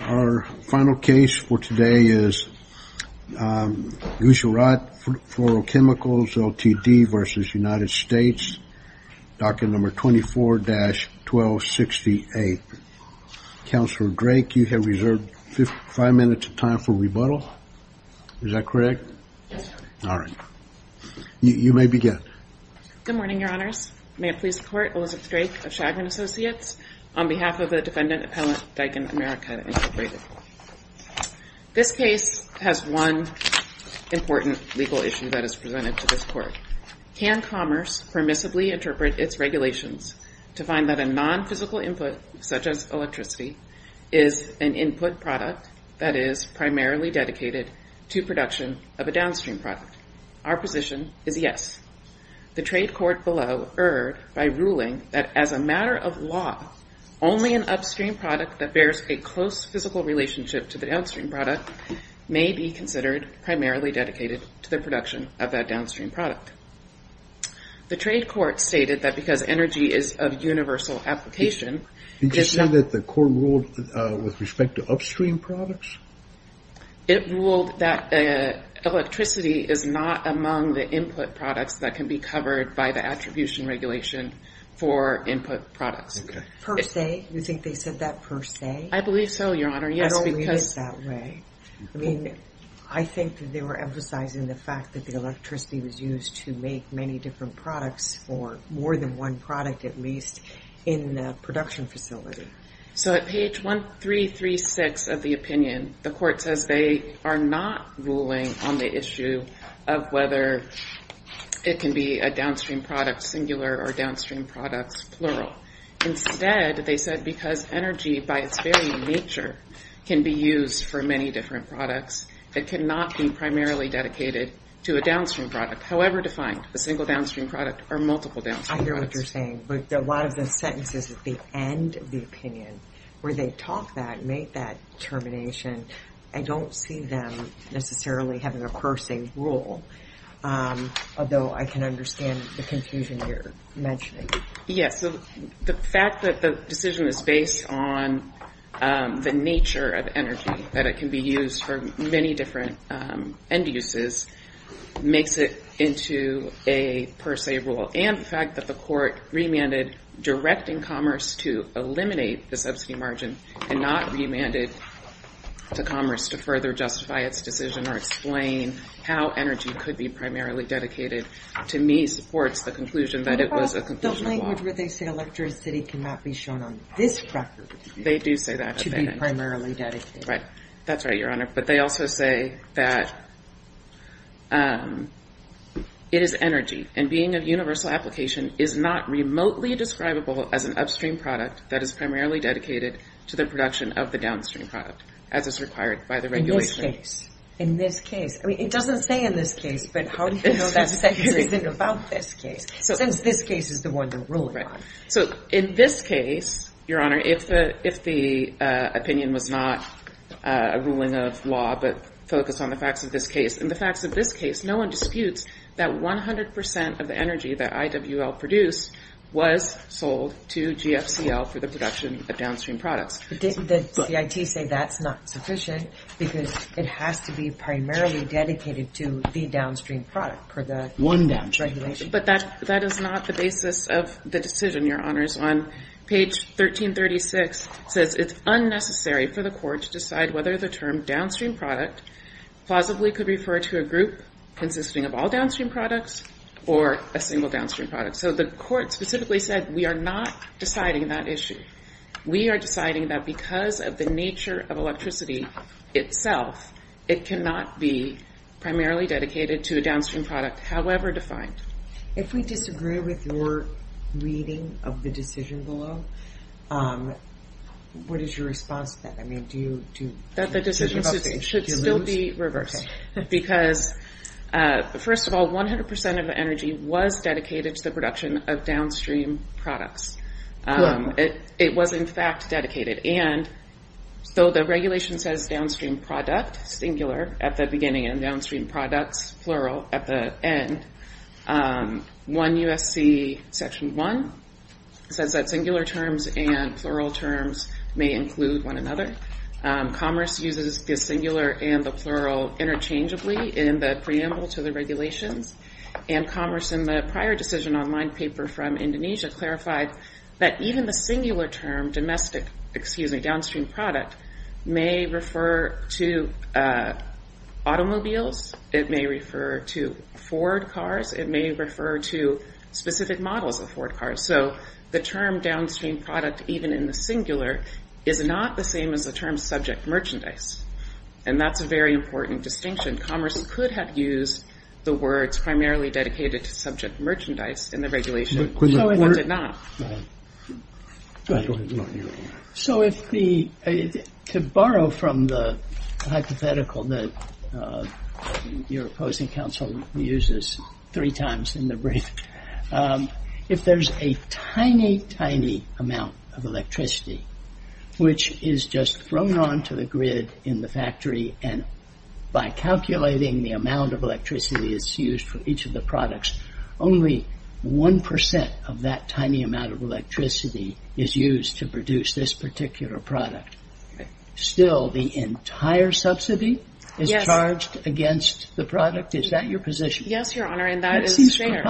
Our final case for today is Gujarat Fluorochemicals Ltd. v. United States, docket number 24-1268. Counselor Drake, you have reserved five minutes of time for rebuttal. Is that correct? All right. You may begin. Good morning, Your Honors. May I please report, Elizabeth Drake of Chagrin Associates on behalf of the Independent Appellant Deakin America, Incorporated. This case has one important legal issue that is presented to this court. Can commerce permissibly interpret its regulations to find that a non-physical input, such as electricity, is an input product that is primarily dedicated to production of a downstream product? Our position is yes. The trade court below erred by ruling that as a matter of law, only an upstream product that bears a close physical relationship to the downstream product may be considered primarily dedicated to the production of that downstream product. The trade court stated that because energy is of universal application... Did you say that the court ruled with respect to upstream products? It ruled that electricity is not among the input products that can be covered by the attribution regulation for input products. Per se? You think they said that per se? I believe so, Your Honor. I don't read it that way. I mean, I think that they were emphasizing the fact that the electricity was used to make many different products for more than one product, at least in the production facility. So at page 1336 of the opinion, the court says they are not ruling on the issue of whether it can be a downstream product, singular or downstream products, plural. Instead, they said because energy, by its very nature, can be used for many different products, it cannot be primarily dedicated to a downstream product, however defined, a single downstream product or multiple downstream products. I hear what you're saying. But a lot of the sentences at the end of the opinion, where they talk that, make that determination, I don't see them necessarily having a per se rule, although I can understand the confusion you're mentioning. Yes, the fact that the decision is based on the nature of energy, that it can be used for many different end uses, makes it into a per se rule. And the fact that the court remanded directing commerce to eliminate the subsidy margin and not remanded to commerce to further justify its decision or explain how energy could be primarily dedicated, to me, supports the conclusion that it was a conclusion of law. The language where they say electricity cannot be shown on this record. They do say that. To be primarily dedicated. Right. That's right, Your Honor. But they also say that it is energy and being of universal application is not remotely describable as an upstream product that is primarily dedicated to the production of the downstream product, as is required by the regulation. In this case, in this case. I mean, it doesn't say in this case, but how do you know that this isn't about this case, since this case is the one they're ruling on? So in this case, Your Honor, if the, if the opinion was not a ruling of law, but focus on the facts of this case and the facts of this case, no one disputes that 100% of the energy that IWL produced was sold to GFCL for the production of downstream products. The CIT say that's not sufficient because it has to be primarily dedicated to the downstream product per the regulation. But that, that is not the basis of the decision, Your Honors. On page 1336 says it's unnecessary for the court to decide whether the term downstream product plausibly could refer to a group consisting of all downstream products or a single downstream product. So the court specifically said, we are not deciding that issue. We are deciding that because of the nature of electricity itself, it cannot be primarily dedicated to a downstream product, however defined. If we disagree with your reading of the decision below, what is your response to that? I mean, do you, do... That the decision should still be reversed because first of all, 100% of the energy was dedicated to the production of downstream products. It was in fact dedicated. And so the regulation says downstream product, singular at the beginning and downstream products, plural at the end. One USC section one says that singular terms and plural terms may include one another. Commerce uses the singular and the plural interchangeably in the preamble to the regulations. And commerce in the prior decision online paper from Indonesia clarified that even the singular term domestic, excuse me, downstream product may refer to automobiles. It may refer to Ford cars. It may refer to specific models of Ford cars. So the term downstream product, even in the singular is not the same as the term subject merchandise. And that's a very important distinction. Commerce could have used the words primarily dedicated to subject merchandise in the regulation, but it did not. So if the, to borrow from the hypothetical that your opposing council uses three times in the brief, if there's a tiny, tiny amount of electricity, which is just thrown onto the grid in the factory. And by calculating the amount of electricity is used for each of the products, only 1% of that tiny amount of electricity is used to produce this particular product. Still the entire subsidy is charged against the product. Is that your position? Yes, Your Honor. And that is fair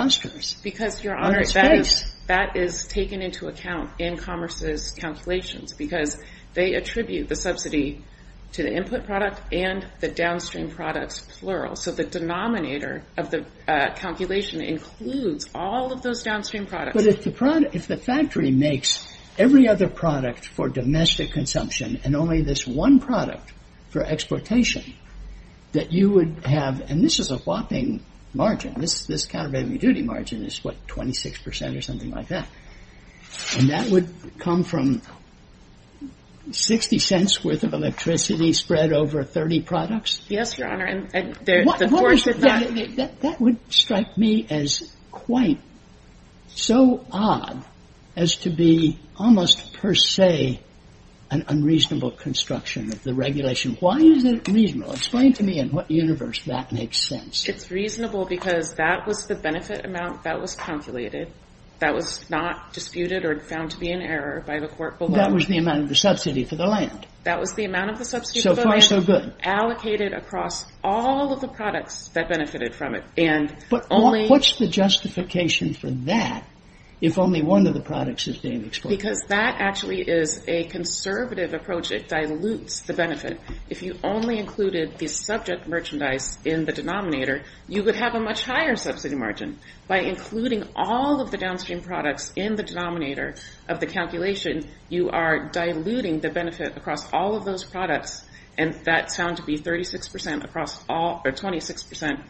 because Your Honor, that is taken into account in commerce's calculations because they attribute the subsidy to the input product and the downstream products, plural. So the denominator of the calculation includes all of those downstream products. But if the product, if the factory makes every other product for domestic consumption, and only this one product for exportation that you would have, and this is a whopping margin. This, this countervailing duty margin is what, 26% or something like that. And that would come from 60 cents worth of electricity spread over 30 products. Yes, Your Honor. And that would strike me as quite so odd as to be almost per se, an unreasonable construction of the regulation. Why is it reasonable? Explain to me in what universe that makes sense. It's reasonable because that was the benefit amount that was calculated. That was not disputed or found to be an error by the court below. That was the amount of the subsidy for the land. That was the amount of the subsidy for the land allocated across all of the products that benefited from it. And only... What's the justification for that if only one of the products is being exported? Because that actually is a conservative approach. It dilutes the benefit. If you only included the subject merchandise in the denominator, you would have a much higher subsidy margin. By including all of the downstream products in the denominator of the calculation, you are diluting the benefit across all of those products. And that's found to be 36% across all or 26%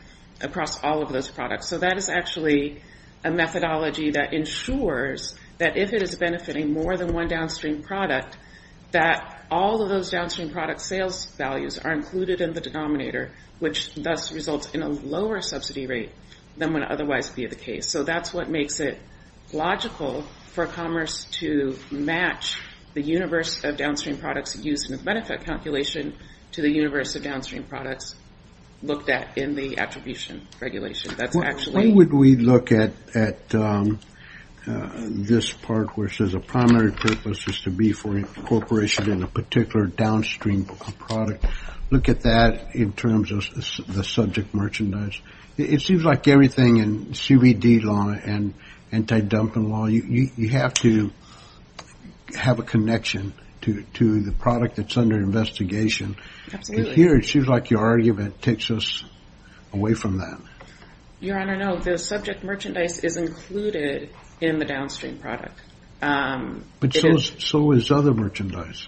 across all of those products. So that is actually a methodology that ensures that if it is benefiting more than one downstream product, that all of those downstream product sales values are included in the denominator, which thus results in a lower subsidy rate than would otherwise be the case. So that's what makes it logical for commerce to match the universe of downstream products used in the benefit calculation to the universe of downstream products looked at in the attribution regulation. Why would we look at this part where it says a primary purpose is to be for incorporation in a particular downstream product? Look at that in terms of the subject merchandise. It seems like everything in CBD law and anti-dumping law, you have to have a connection to the product that's under investigation. Here, it seems like your argument takes us away from that. Your Honor, no, the subject merchandise is included in the downstream product. But so is other merchandise.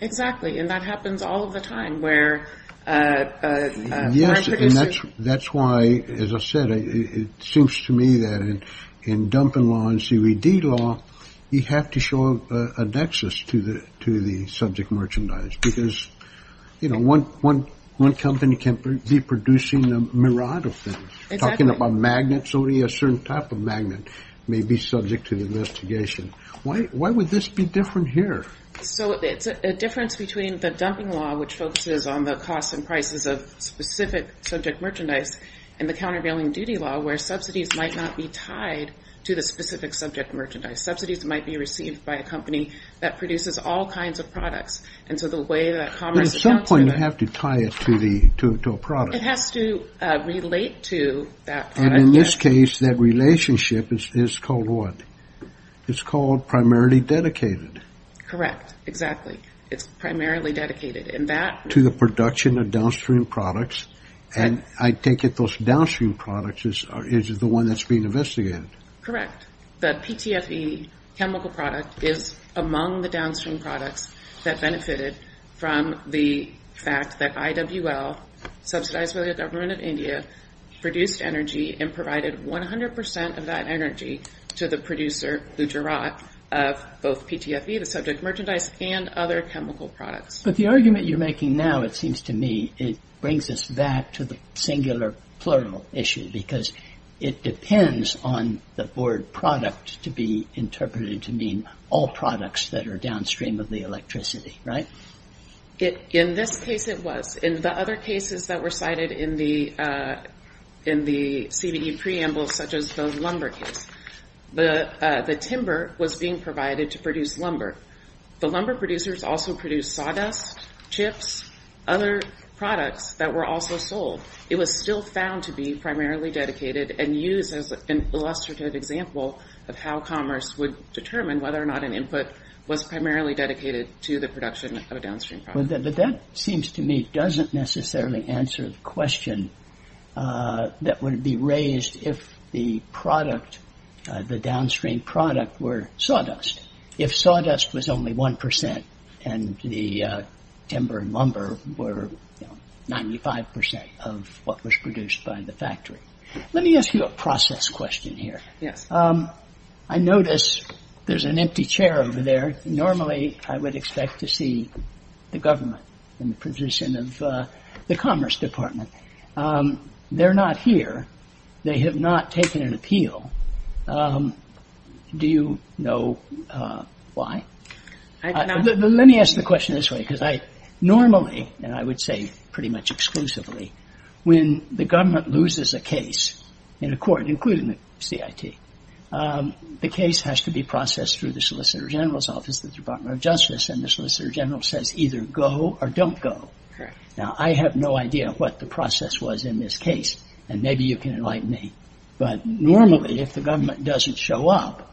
Exactly. And that happens all of the time where. Yes. That's why, as I said, it seems to me that in dumping law and CBD law, you have to show a nexus to the subject merchandise because, you know, one company can be producing a myriad of things. Talking about magnets, only a certain type of magnet may be subject to the investigation. Why would this be different here? So it's a difference between the dumping law, which focuses on the costs and prices of specific subject merchandise, and the countervailing duty law where subsidies might not be tied to the specific subject merchandise. Subsidies might be received by a company that produces all kinds of products. And so the way that commerce. At some point, you have to tie it to a product. It has to relate to that. And in this case, that relationship is called what? It's called primarily dedicated. Correct. Exactly. It's primarily dedicated. And that. To the production of downstream products. And I take it those downstream products is the one that's being investigated. Correct. The PTFE chemical product is among the downstream products that benefited from the fact that IWL, subsidized by the government of India, produced energy and provided 100% of that energy to the producer, Lujarat, of both PTFE, the subject merchandise, and other chemical products. But the argument you're making now, it seems to me, it brings us back to the singular plural issue because it depends on the word product to be interpreted to mean all products that are downstream of the electricity, right? In this case, it was. In the other cases that were cited in the CVE preamble, such as the lumber case, the timber was being provided to produce lumber. The lumber producers also produced sawdust, chips, other products that were also sold. It was still found to be primarily dedicated and used as an illustrative example of how commerce would determine whether or not an input was primarily dedicated to the production of a downstream product. But that seems to me doesn't necessarily answer the question that would be raised if the downstream product were sawdust, if sawdust was only 1% and the timber and lumber were 95% of what was produced by the factory. Let me ask you a process question here. I notice there's an empty chair over there. Normally, I would expect to see the government in the position of the commerce department. They're not here. They have not taken an appeal. Do you know why? Let me ask the question this way, because I normally, and I would say pretty much exclusively, when the government loses a case in a court, including the CIT, the case has to be processed through the Solicitor General's office, the Department of Justice, and the Solicitor General says either go or don't go. Now, I have no idea what the process was in this case, and maybe you can enlighten me, but normally, if the government doesn't show up,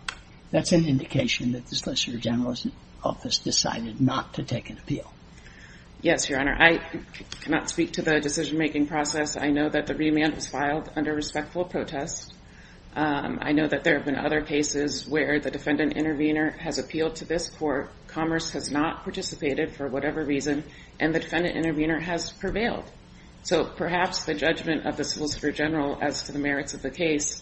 that's an indication that the Solicitor General's office decided not to take an appeal. Yes, Your Honor. I cannot speak to the decision-making process. I know that the remand was filed under respectful protest. I know that there have been other cases where the defendant intervener has appealed to this court, commerce has not participated for whatever reason, and the defendant intervener has prevailed. So perhaps the judgment of the Solicitor General as to the merits of the case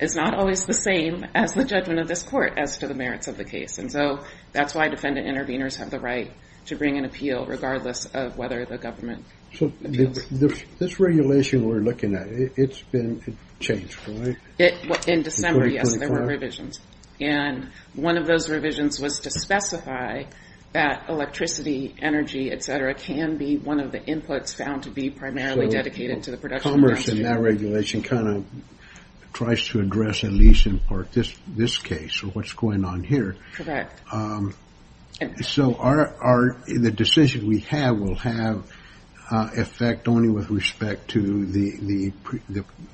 is not always the same as the judgment of this court as to the merits of the case. And so that's why defendant interveners have the right to bring an appeal regardless of whether the government appeals. So this regulation we're looking at, it's been changed, right? In December, yes, there were revisions. And one of those revisions was to specify that electricity, energy, etc. can be one of the inputs found to be primarily dedicated to the production. Commerce in that regulation kind of tries to address at least in part this case or what's going on here. Correct. So the decision we have will have effect only with respect to the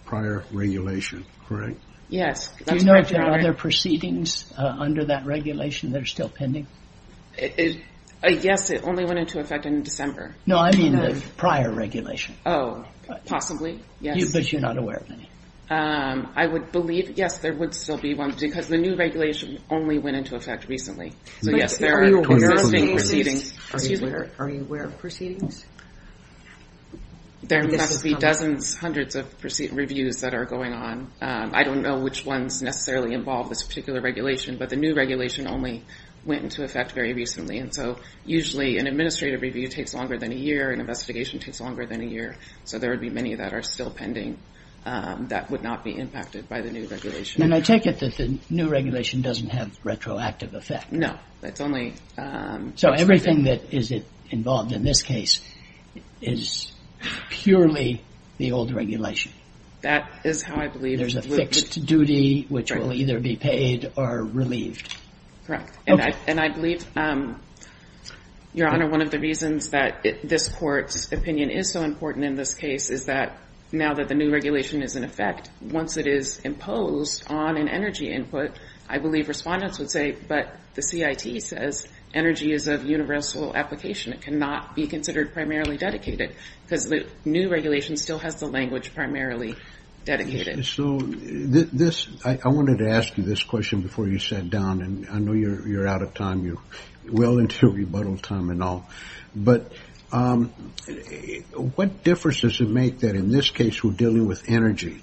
prior regulation, correct? Yes. Do you know if there are other proceedings under that regulation that are still pending? Yes, it only went into effect in December. No, I mean the prior regulation. Oh, possibly, yes. But you're not aware of any? I would believe, yes, there would still be one because the new regulation only went into effect recently. So, yes, there are existing proceedings. Are you aware of proceedings? There must be dozens, hundreds of reviews that are going on. I don't know which ones necessarily involve this particular regulation, but the new regulation only went into effect very recently. And so usually an administrative review takes longer than a year, an investigation takes longer than a year. So there would be many that are still pending that would not be impacted by the new regulation. And I take it that the new regulation doesn't have retroactive effect. No, that's only. So everything that is involved in this case is purely the old regulation. That is how I believe. There's a fixed duty which will either be paid or relieved. Correct. And I believe, Your Honor, one of the reasons that this court's opinion is so important in this case is that now that the new regulation is in effect, once it is imposed on an energy input, I believe respondents would say, but the CIT says energy is of universal application. It cannot be considered primarily dedicated because the new regulation still has the language primarily dedicated. So this I wanted to ask you this question before you sat down. And I know you're out of time. You're well into rebuttal time and all. But what difference does it make that in this case we're dealing with energy?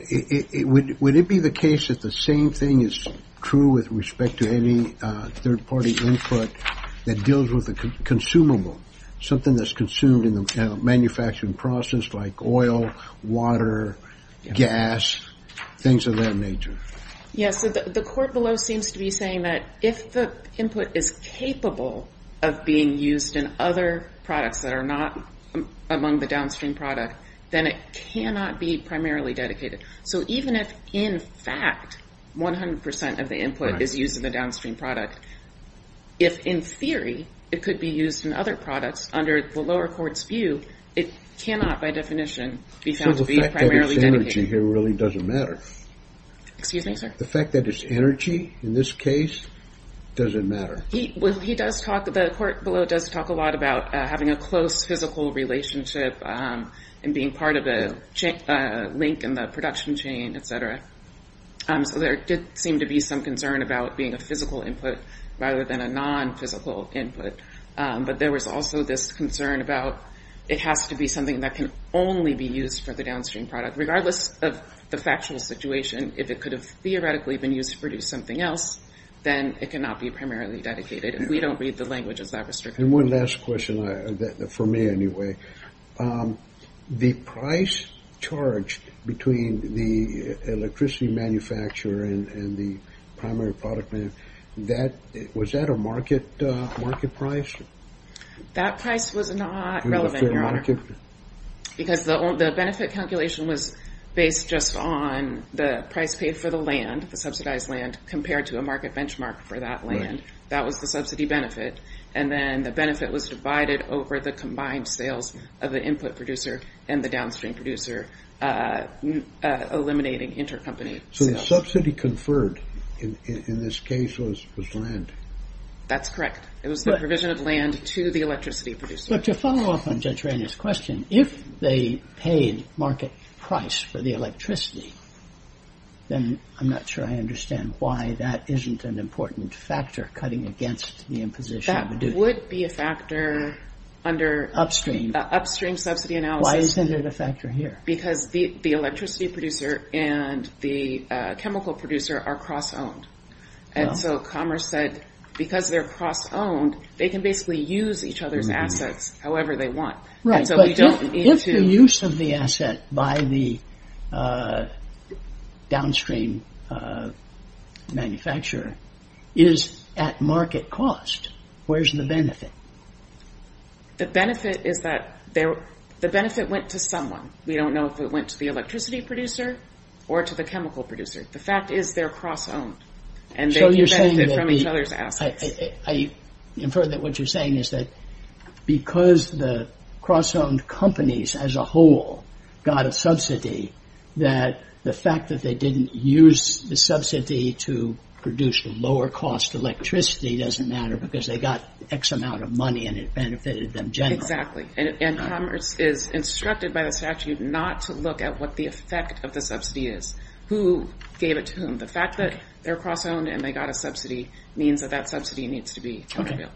Would it be the case that the same thing is true with respect to any third party input that deals with the consumable, something that's consumed in the manufacturing process like oil, water, gas, things of that nature? Yes. The court below seems to be saying that if the input is capable of being used in other products that are not among the downstream product, then it cannot be primarily dedicated. So even if, in fact, 100 percent of the input is used in the downstream product, if in theory it could be used in other products under the lower court's view, it cannot, by definition, be found to be primarily dedicated. So the fact that it's energy here really doesn't matter? Excuse me, sir? The fact that it's energy in this case doesn't matter. He does talk, the court below does talk a lot about having a close physical relationship and being part of a link in the production chain, etc. So there did seem to be some concern about being a physical input rather than a non physical input. But there was also this concern about it has to be something that can only be used for the downstream product, regardless of the factual situation. If it could have theoretically been used to produce something else, then it cannot be primarily dedicated. If we don't read the language, is that restricted? And one last question, for me anyway, the price charge between the electricity manufacturer and the primary product man, was that a market price? That price was not relevant, Your Honor. Because the benefit calculation was based just on the price paid for the land, the subsidized land, compared to a market benchmark for that land. That was the subsidy benefit. And then the benefit was divided over the combined sales of the input producer and the downstream producer, eliminating intercompany. So the subsidy conferred in this case was land? That's correct. It was the provision of land to the electricity producer. But to follow up on Judge Rainier's question, if they paid market price for the electricity, then I'm not sure I understand why that isn't an important factor cutting against the imposition of a duty. That would be a factor under upstream subsidy analysis. Why isn't it a factor here? Because the electricity producer and the chemical producer are cross-owned. And so Commerce said, because they're cross-owned, they can basically use each other's assets however they want. Right. But if the use of the asset by the downstream manufacturer is at market cost, where's the benefit? The benefit is that the benefit went to someone. We don't know if it went to the electricity producer or to the chemical producer. The fact is they're cross-owned. And so you're saying that I infer that what you're saying is that because the cross-owned companies as a whole got a subsidy, that the fact that they didn't use the subsidy to produce the lower cost electricity doesn't matter because they got X amount of money and it benefited them generally. Exactly. And Commerce is instructed by the statute not to look at what the effect of the subsidy is. Who gave it to whom? The fact that they're cross-owned and they got a subsidy means that that subsidy needs to be revealed.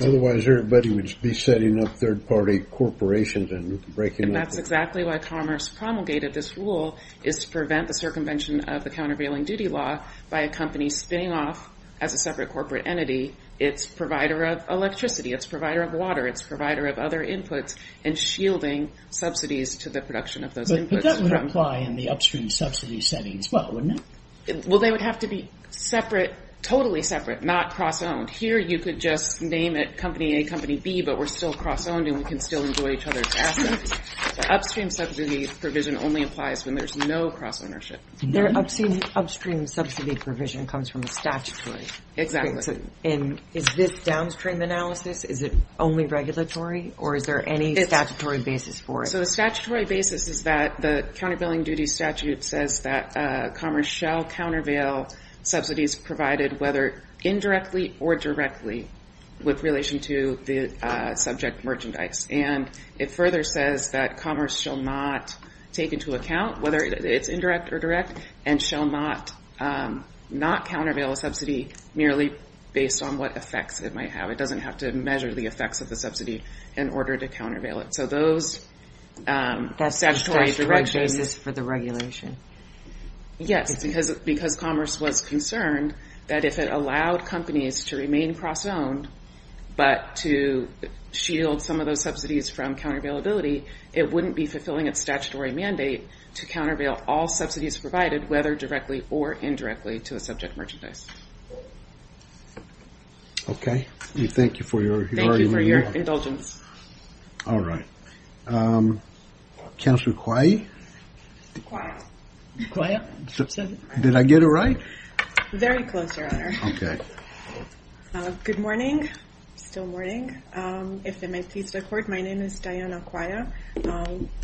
Otherwise, everybody would be setting up third party corporations and breaking up. And that's exactly why Commerce promulgated this rule is to prevent the circumvention of the countervailing duty law by a company spinning off as a separate corporate entity. It's provider of electricity. It's provider of water. It's provider of other inputs and shielding subsidies to the production of those inputs. But that would apply in the upstream subsidy setting as well, wouldn't it? Well, they would have to be separate, totally separate, not cross-owned. Here, you could just name it company A, company B, but we're still cross-owned and we can still enjoy each other's assets. Upstream subsidy provision only applies when there's no cross-ownership. Their upstream subsidy provision comes from the statutory. Exactly. And is this downstream analysis? Is it only regulatory or is there any statutory basis for it? So the statutory basis is that the countervailing duty statute says that Commerce shall countervail subsidies provided, whether indirectly or directly, with relation to the subject merchandise. And it further says that Commerce shall not take into account whether it's indirect or direct and shall not countervail a subsidy merely based on what effects it might have. It doesn't have to measure the effects of the subsidy in order to countervail it. So those statutory directions... That's just the basis for the regulation? Yes, because Commerce was concerned that if it allowed companies to remain cross-owned, but to shield some of those subsidies from countervailability, it wouldn't be fulfilling its statutory mandate to countervail all subsidies provided, whether directly or indirectly, to a subject merchandise. OK, we thank you for your... Thank you for your indulgence. All right. Counselor Quahy? Did I get it right? Very close, Your Honor. Good morning. Still morning. If they might please record, my name is Diana Quahy,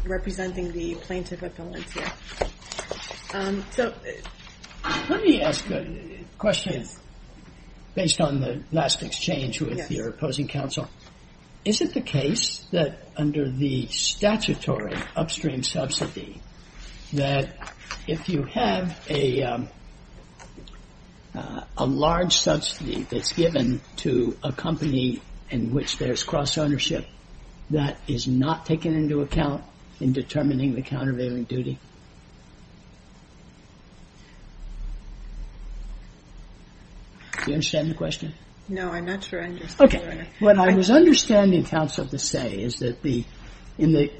representing the plaintiff at Valencia. So let me ask a question based on the last exchange with your opposing counsel. Is it the case that under the statutory upstream subsidy, that if you have a large subsidy that's given to a company in which there's cross-ownership, that is not taken into account in determining the countervailing duty? Do you understand the question? No, I'm not sure I understand. What I was understanding, counsel, to say is that in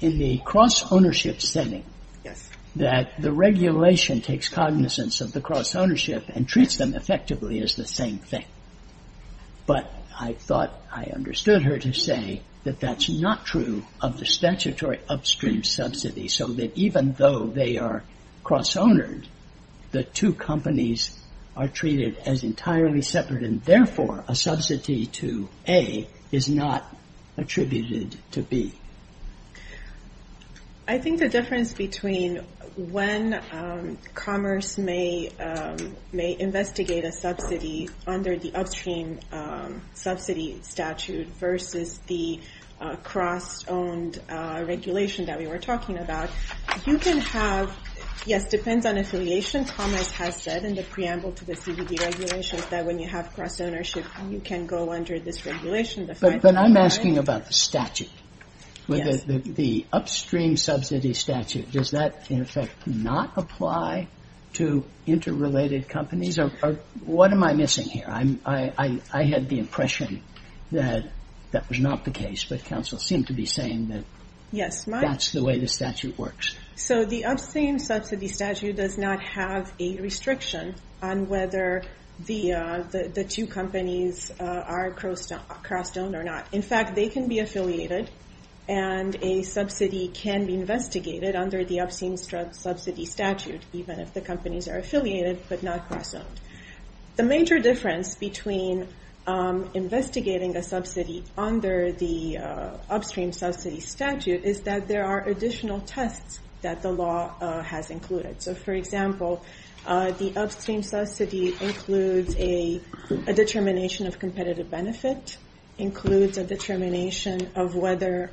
the cross-ownership setting, that the regulation takes cognizance of the cross-ownership and treats them effectively as the same thing. But I thought I understood her to say that that's not true of the statutory upstream subsidy, so that even though they are cross-owned, the two companies are treated as entirely separate. And therefore, a subsidy to A is not attributed to B. I think the difference between when commerce may investigate a subsidy under the upstream subsidy statute versus the cross-owned regulation that we were talking about, you can have, yes, it depends on affiliation. Commerce has said in the preamble to the CBD regulations that when you have cross-ownership, you can go under this regulation. But I'm asking about the statute, the upstream subsidy statute. Does that, in effect, not apply to interrelated companies or what am I missing here? I had the impression that that was not the case. But counsel seemed to be saying that that's the way the statute works. So the upstream subsidy statute does not have a restriction on whether the two companies are cross-owned or not. In fact, they can be affiliated and a subsidy can be investigated under the upstream subsidy statute, even if the companies are affiliated but not cross-owned. The major difference between investigating a subsidy under the upstream subsidy statute is that there are additional tests that the law has included. So, for example, the upstream subsidy includes a determination of competitive benefit, includes a determination of whether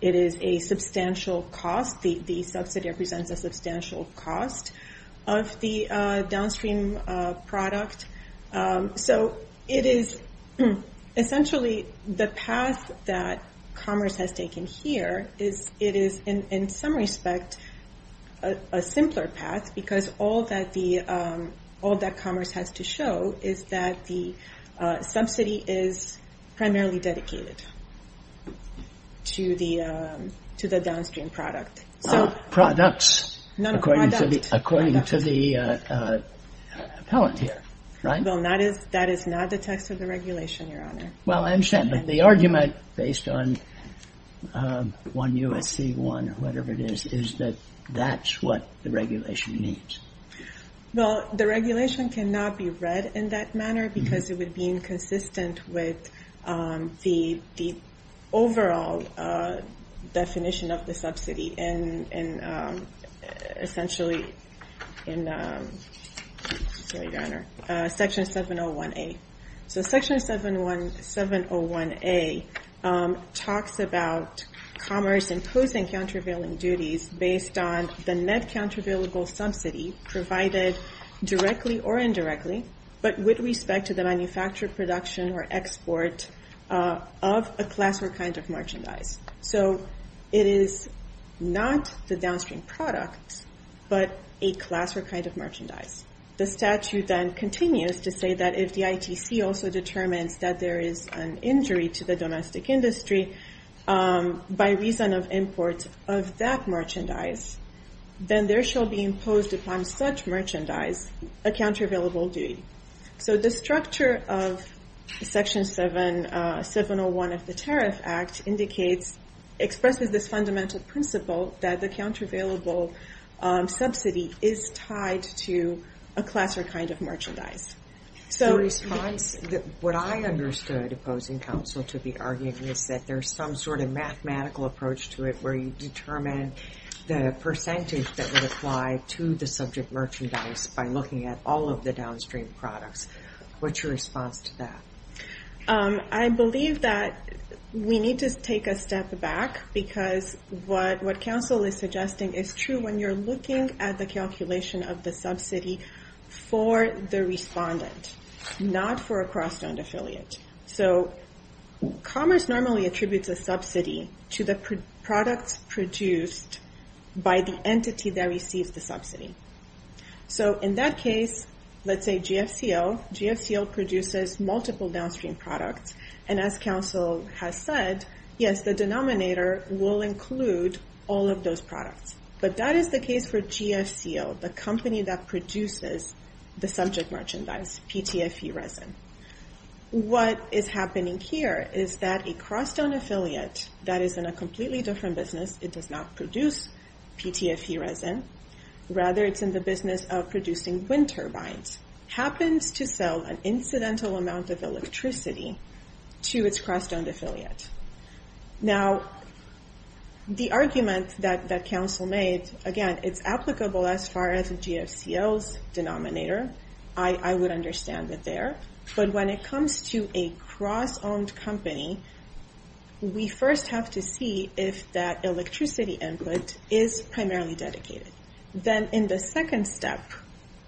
it is a substantial cost. The subsidy represents a substantial cost of the downstream product. So it is essentially the path that commerce has taken here is it is, in some respect, a simpler path because all that commerce has to show is that the subsidy is primarily dedicated to the downstream product. Products, according to the appellant here, right? Well, that is not the text of the regulation, Your Honor. Well, I understand, but the argument based on 1 U.S.C. 1 or whatever it is, is that that's what the regulation means. Well, the regulation cannot be read in that manner because it would be inconsistent with the overall definition of the subsidy and essentially in Section 701A. So Section 701A talks about commerce imposing countervailing duties based on the net countervailable subsidy provided directly or indirectly, but with respect to the manufactured production or export of a class or kind of merchandise. So it is not the downstream product, but a class or kind of merchandise. The statute then continues to say that if the ITC also determines that there is an injury to the domestic industry by reason of import of that merchandise, then there shall be imposed upon such merchandise a countervailable duty. So the structure of Section 701 of the Tariff Act indicates, expresses this fundamental principle that the countervailable subsidy is tied to a class or kind of merchandise. So what I understood opposing counsel to be arguing is that there's some sort of mathematical approach to it where you determine the percentage that would apply to the subject merchandise by looking at all of the downstream products. What's your response to that? I believe that we need to take a step back because what counsel is suggesting is true when you're looking at the calculation of the subsidy for the respondent, not for a cross-owned affiliate. So commerce normally attributes a subsidy to the products produced by the entity that receives the subsidy. So in that case, let's say GFCL, GFCL produces multiple downstream products. And as counsel has said, yes, the denominator will include all of those products. But that is the case for GFCL, the company that produces the subject merchandise, PTFE resin. What is happening here is that a cross-owned affiliate that is in a completely different business, it does not produce PTFE resin, rather it's in the business of producing wind turbines, happens to sell an incidental amount of electricity to its cross-owned affiliate. Now, the argument that counsel made, again, it's applicable as far as GFCL's denominator. I would understand it there. But when it comes to a cross-owned company, we first have to see if that electricity input is primarily dedicated. Then in the second step,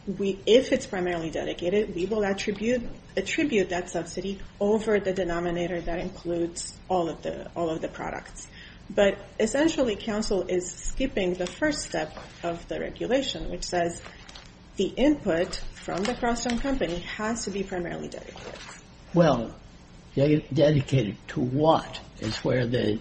if it's primarily dedicated, we will attribute that subsidy over the denominator that includes all of the products. But essentially, counsel is skipping the first step of the regulation, which says the input from the cross-owned company has to be primarily dedicated. Well, dedicated to what is where the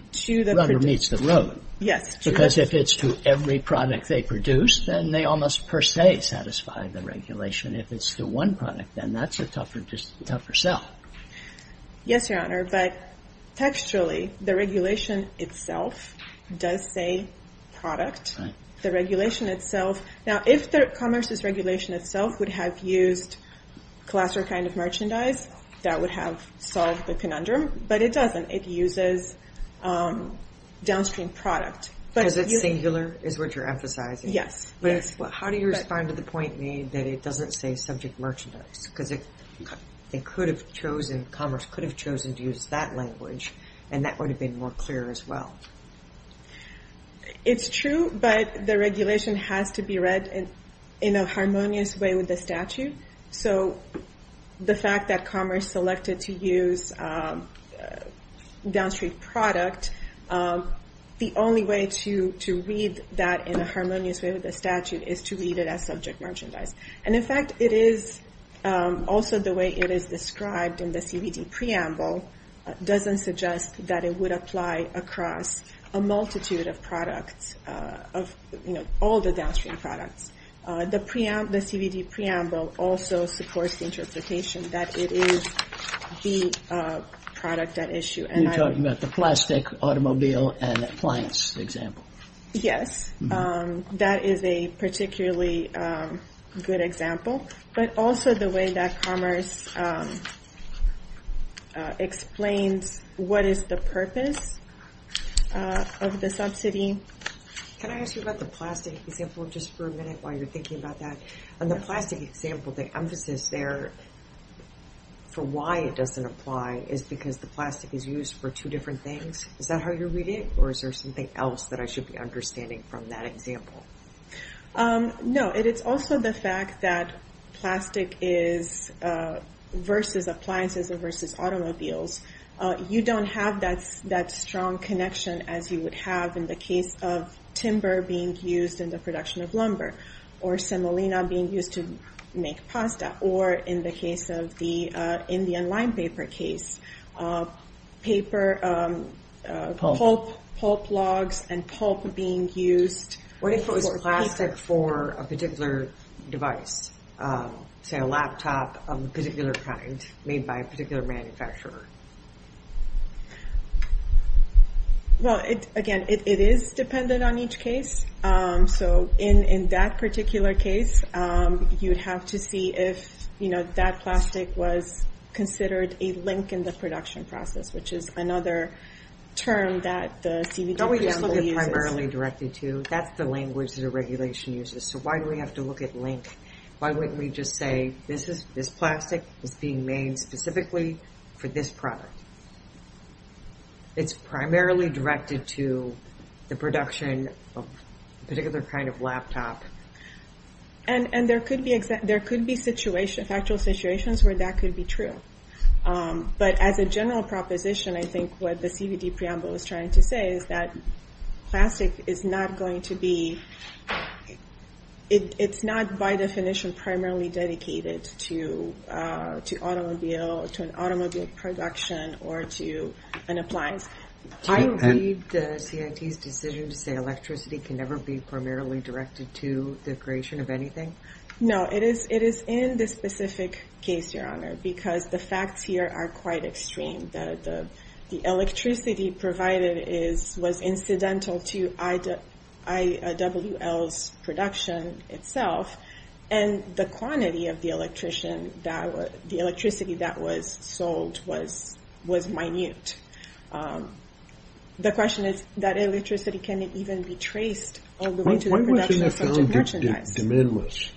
runner meets the road? Yes. Because if it's to every product they produce, then they almost per se satisfy the regulation. If it's to one product, then that's a tougher sell. Yes, Your Honor. But textually, the regulation itself does say product. The regulation itself. Now, if Commerce's regulation itself would have used class or kind of merchandise, that would have solved the conundrum. But it doesn't. It uses downstream product. Because it's singular, is what you're emphasizing? Yes. But how do you respond to the point made that it doesn't say subject merchandise? Because Commerce could have chosen to use that language, and that would have been more clear as well. It's true, but the regulation has to be read in a harmonious way with the statute. So the fact that Commerce selected to use downstream product, the only way to read that in a harmonious way with the statute is to read it as subject merchandise. And in fact, it is also the way it is described in the CBD preamble, doesn't suggest that it would apply across a multitude of products of, you know, all the downstream products. The CBD preamble also supports the interpretation that it is the product at issue. And you're talking about the plastic automobile and appliance example. Yes, that is a particularly good example. But also the way that Commerce explains what is the purpose of the subsidy. Can I ask you about the plastic example just for a minute while you're thinking about that? And the plastic example, the emphasis there for why it doesn't apply is because the plastic is used for two different things. Is that how you read it? Or is there something else that I should be understanding from that example? No, it's also the fact that plastic is versus appliances or versus automobiles. You don't have that strong connection as you would have in the case of timber being used in the production of lumber or semolina being used to make pasta or in the case of the Indian plastic for a particular device, say a laptop of a particular kind made by a particular manufacturer. Well, again, it is dependent on each case. So in that particular case, you'd have to see if, you know, that plastic was considered a link in the production process, which is another term that the CBD preamble uses. Primarily directed to, that's the language that a regulation uses. So why do we have to look at link? Why wouldn't we just say this plastic is being made specifically for this product? It's primarily directed to the production of a particular kind of laptop. And there could be actual situations where that could be true. But as a general proposition, I think what the CBD preamble is trying to say is that plastic is not going to be, it's not by definition primarily dedicated to an automobile production or to an appliance. Do you believe the CIT's decision to say electricity can never be primarily directed to the creation of anything? No, it is in this specific case, Your Honor, because the facts here are quite extreme. The electricity provided was incidental to IWL's production itself. And the quantity of the electricity that was sold was minute. The question is, that electricity can it even be traced all the way to the production of such a merchandise? De minimis,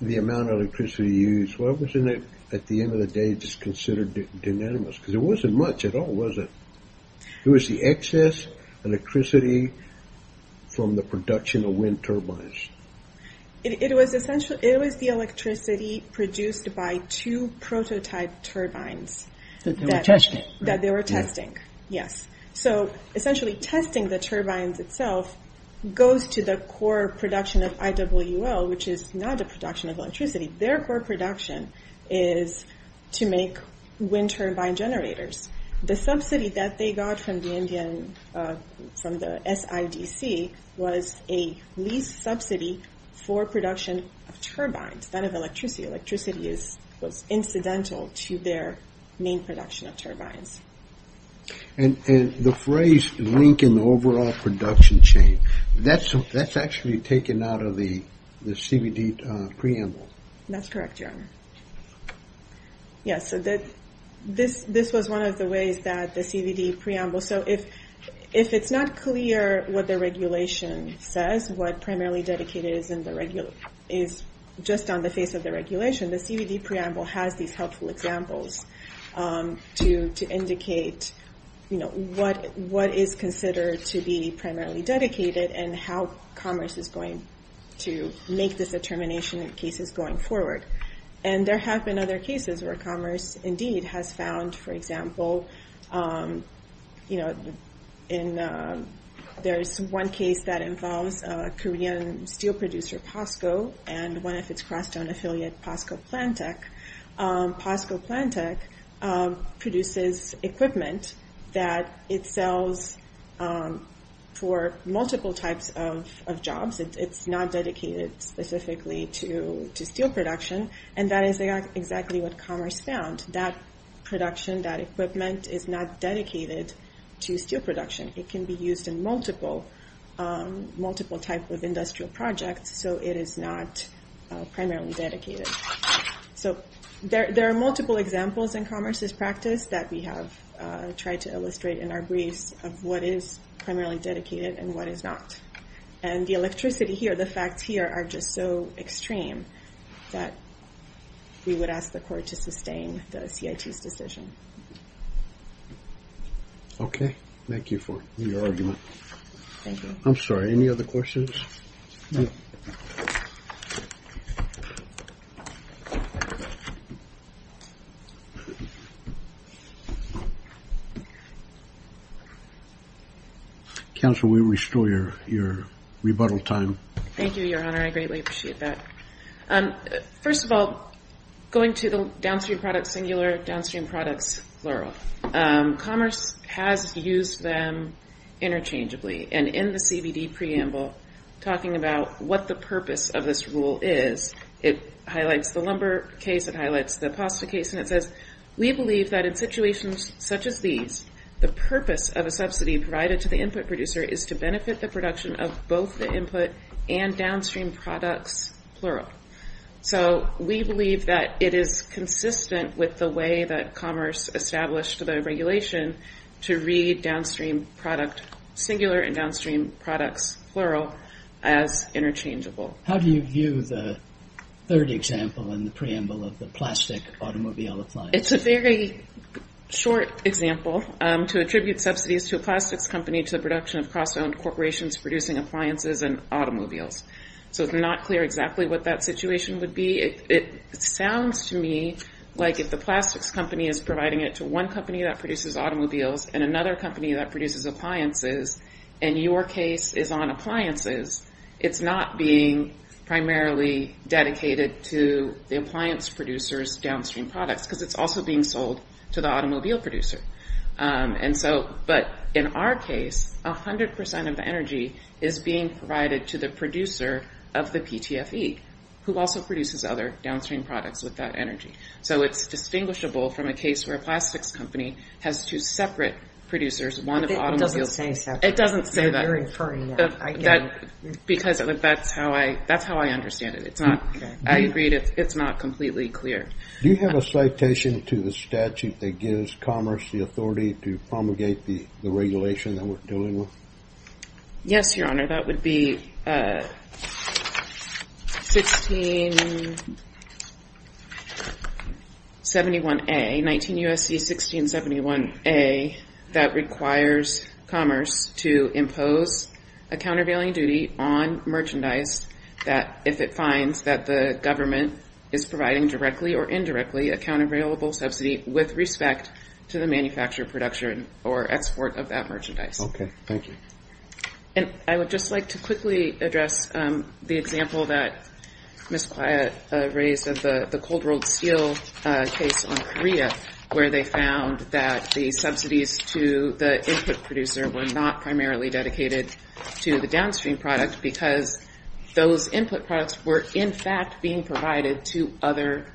the amount of electricity used, wasn't it at the end of the day just considered de minimis? Because it wasn't much at all, was it? It was the excess electricity from the production of wind turbines. It was essentially, it was the electricity produced by two prototype turbines that they were testing. Yes, so essentially testing the turbines itself goes to the core production of IWL, which is not the production of electricity. Their core production is to make wind turbine generators. The subsidy that they got from the SIDC was a lease subsidy for production of turbines, not of electricity. Electricity was incidental to their main production of turbines. And the phrase link in the overall production chain, that's actually taken out of the CBD preamble. That's correct, Your Honor. Yes, so that this was one of the ways that the CBD preamble, so if it's not clear what the regulation says, what primarily dedicated is just on the face of the regulation, the CBD preamble has these helpful examples to indicate what is considered to be primarily dedicated and how commerce is going to make this determination in cases going forward. And there have been other cases where commerce indeed has found, for example, you know, in there's one case that involves a Korean steel producer, POSCO, and one of its cross-town affiliate, POSCO Plantek. POSCO Plantek produces equipment that it sells for multiple types of jobs. It's not dedicated specifically to steel production. And that is exactly what commerce found. That production, that equipment is not dedicated to steel production. It can be used in multiple type of industrial projects. So it is not primarily dedicated. So there are multiple examples in commerce's practice that we have tried to illustrate in our briefs of what is primarily dedicated and what is not. And the electricity here, the facts here are just so extreme that we would ask the court to sustain the CIT's decision. Okay. Thank you for your argument. I'm sorry. Any other questions? No. Counsel, we restore your rebuttal time. Thank you, Your Honor. I greatly appreciate that. First of all, going to the downstream products singular, downstream products plural. Commerce has used them interchangeably. And in the CBD preamble, talking about what the purpose of this rule is, it highlights the lumber case, it highlights the POSCO case. And it says, we believe that in situations such as these, the purpose of a subsidy provided to the input producer is to benefit the production of both the input and downstream products plural. So we believe that it is consistent with the way that commerce established the regulation to read downstream product singular and downstream products plural as interchangeable. How do you view the third example in the preamble of the plastic automobile appliance? It's a very short example to attribute subsidies to a plastics company to the production of cross-owned corporations producing appliances and automobiles. So it's not clear exactly what that situation would be. It sounds to me like if the plastics company is providing it to one company that produces automobiles and another company that produces appliances, and your case is on appliances, it's not being primarily dedicated to the appliance producers downstream products because it's also being sold to the automobile producer. And so, but in our case, 100% of the energy is being provided to the producer of the PTFE, who also produces other downstream products with that energy. So it's distinguishable from a case where a plastics company has two separate producers, one of automobiles. It doesn't say separate. It doesn't say that. You're inferring that. Because that's how I understand it. It's not, I agree, it's not completely clear. Do you have a citation to the statute that gives commerce the authority to promulgate the regulation that we're dealing with? Yes, Your Honor. That would be 1671A, 19 U.S.C. 1671A, that requires commerce to impose a countervailing duty on merchandise that if it finds that the government is providing directly or indirectly a countervailable subsidy with respect to the manufacture, production, or export of that merchandise. Okay, thank you. And I would just like to quickly address the example that Ms. Quiet raised of the Cold World Steel case on Korea, where they found that the subsidies to the input producer were not primarily dedicated to the downstream product because those input products were, in fact, being provided to other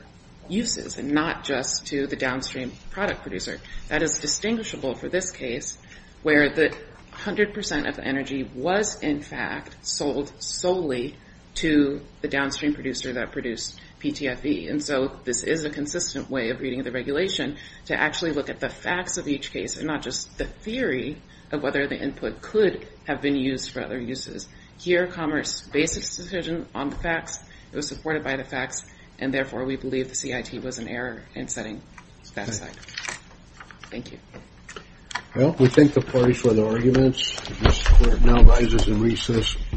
uses and not just to the downstream product producer. That is distinguishable for this case, where the 100% of the energy was, in fact, sold solely to the downstream producer that produced PTFE. And so this is a consistent way of reading the regulation to actually look at the facts of each case and not just the theory of whether the input could have been used for other uses. Here, commerce based its decision on the facts, it was supported by the facts, and therefore we believe the CIT was in error in setting that cycle. Thank you. Well, we thank the parties for their arguments. This court now rises in recess.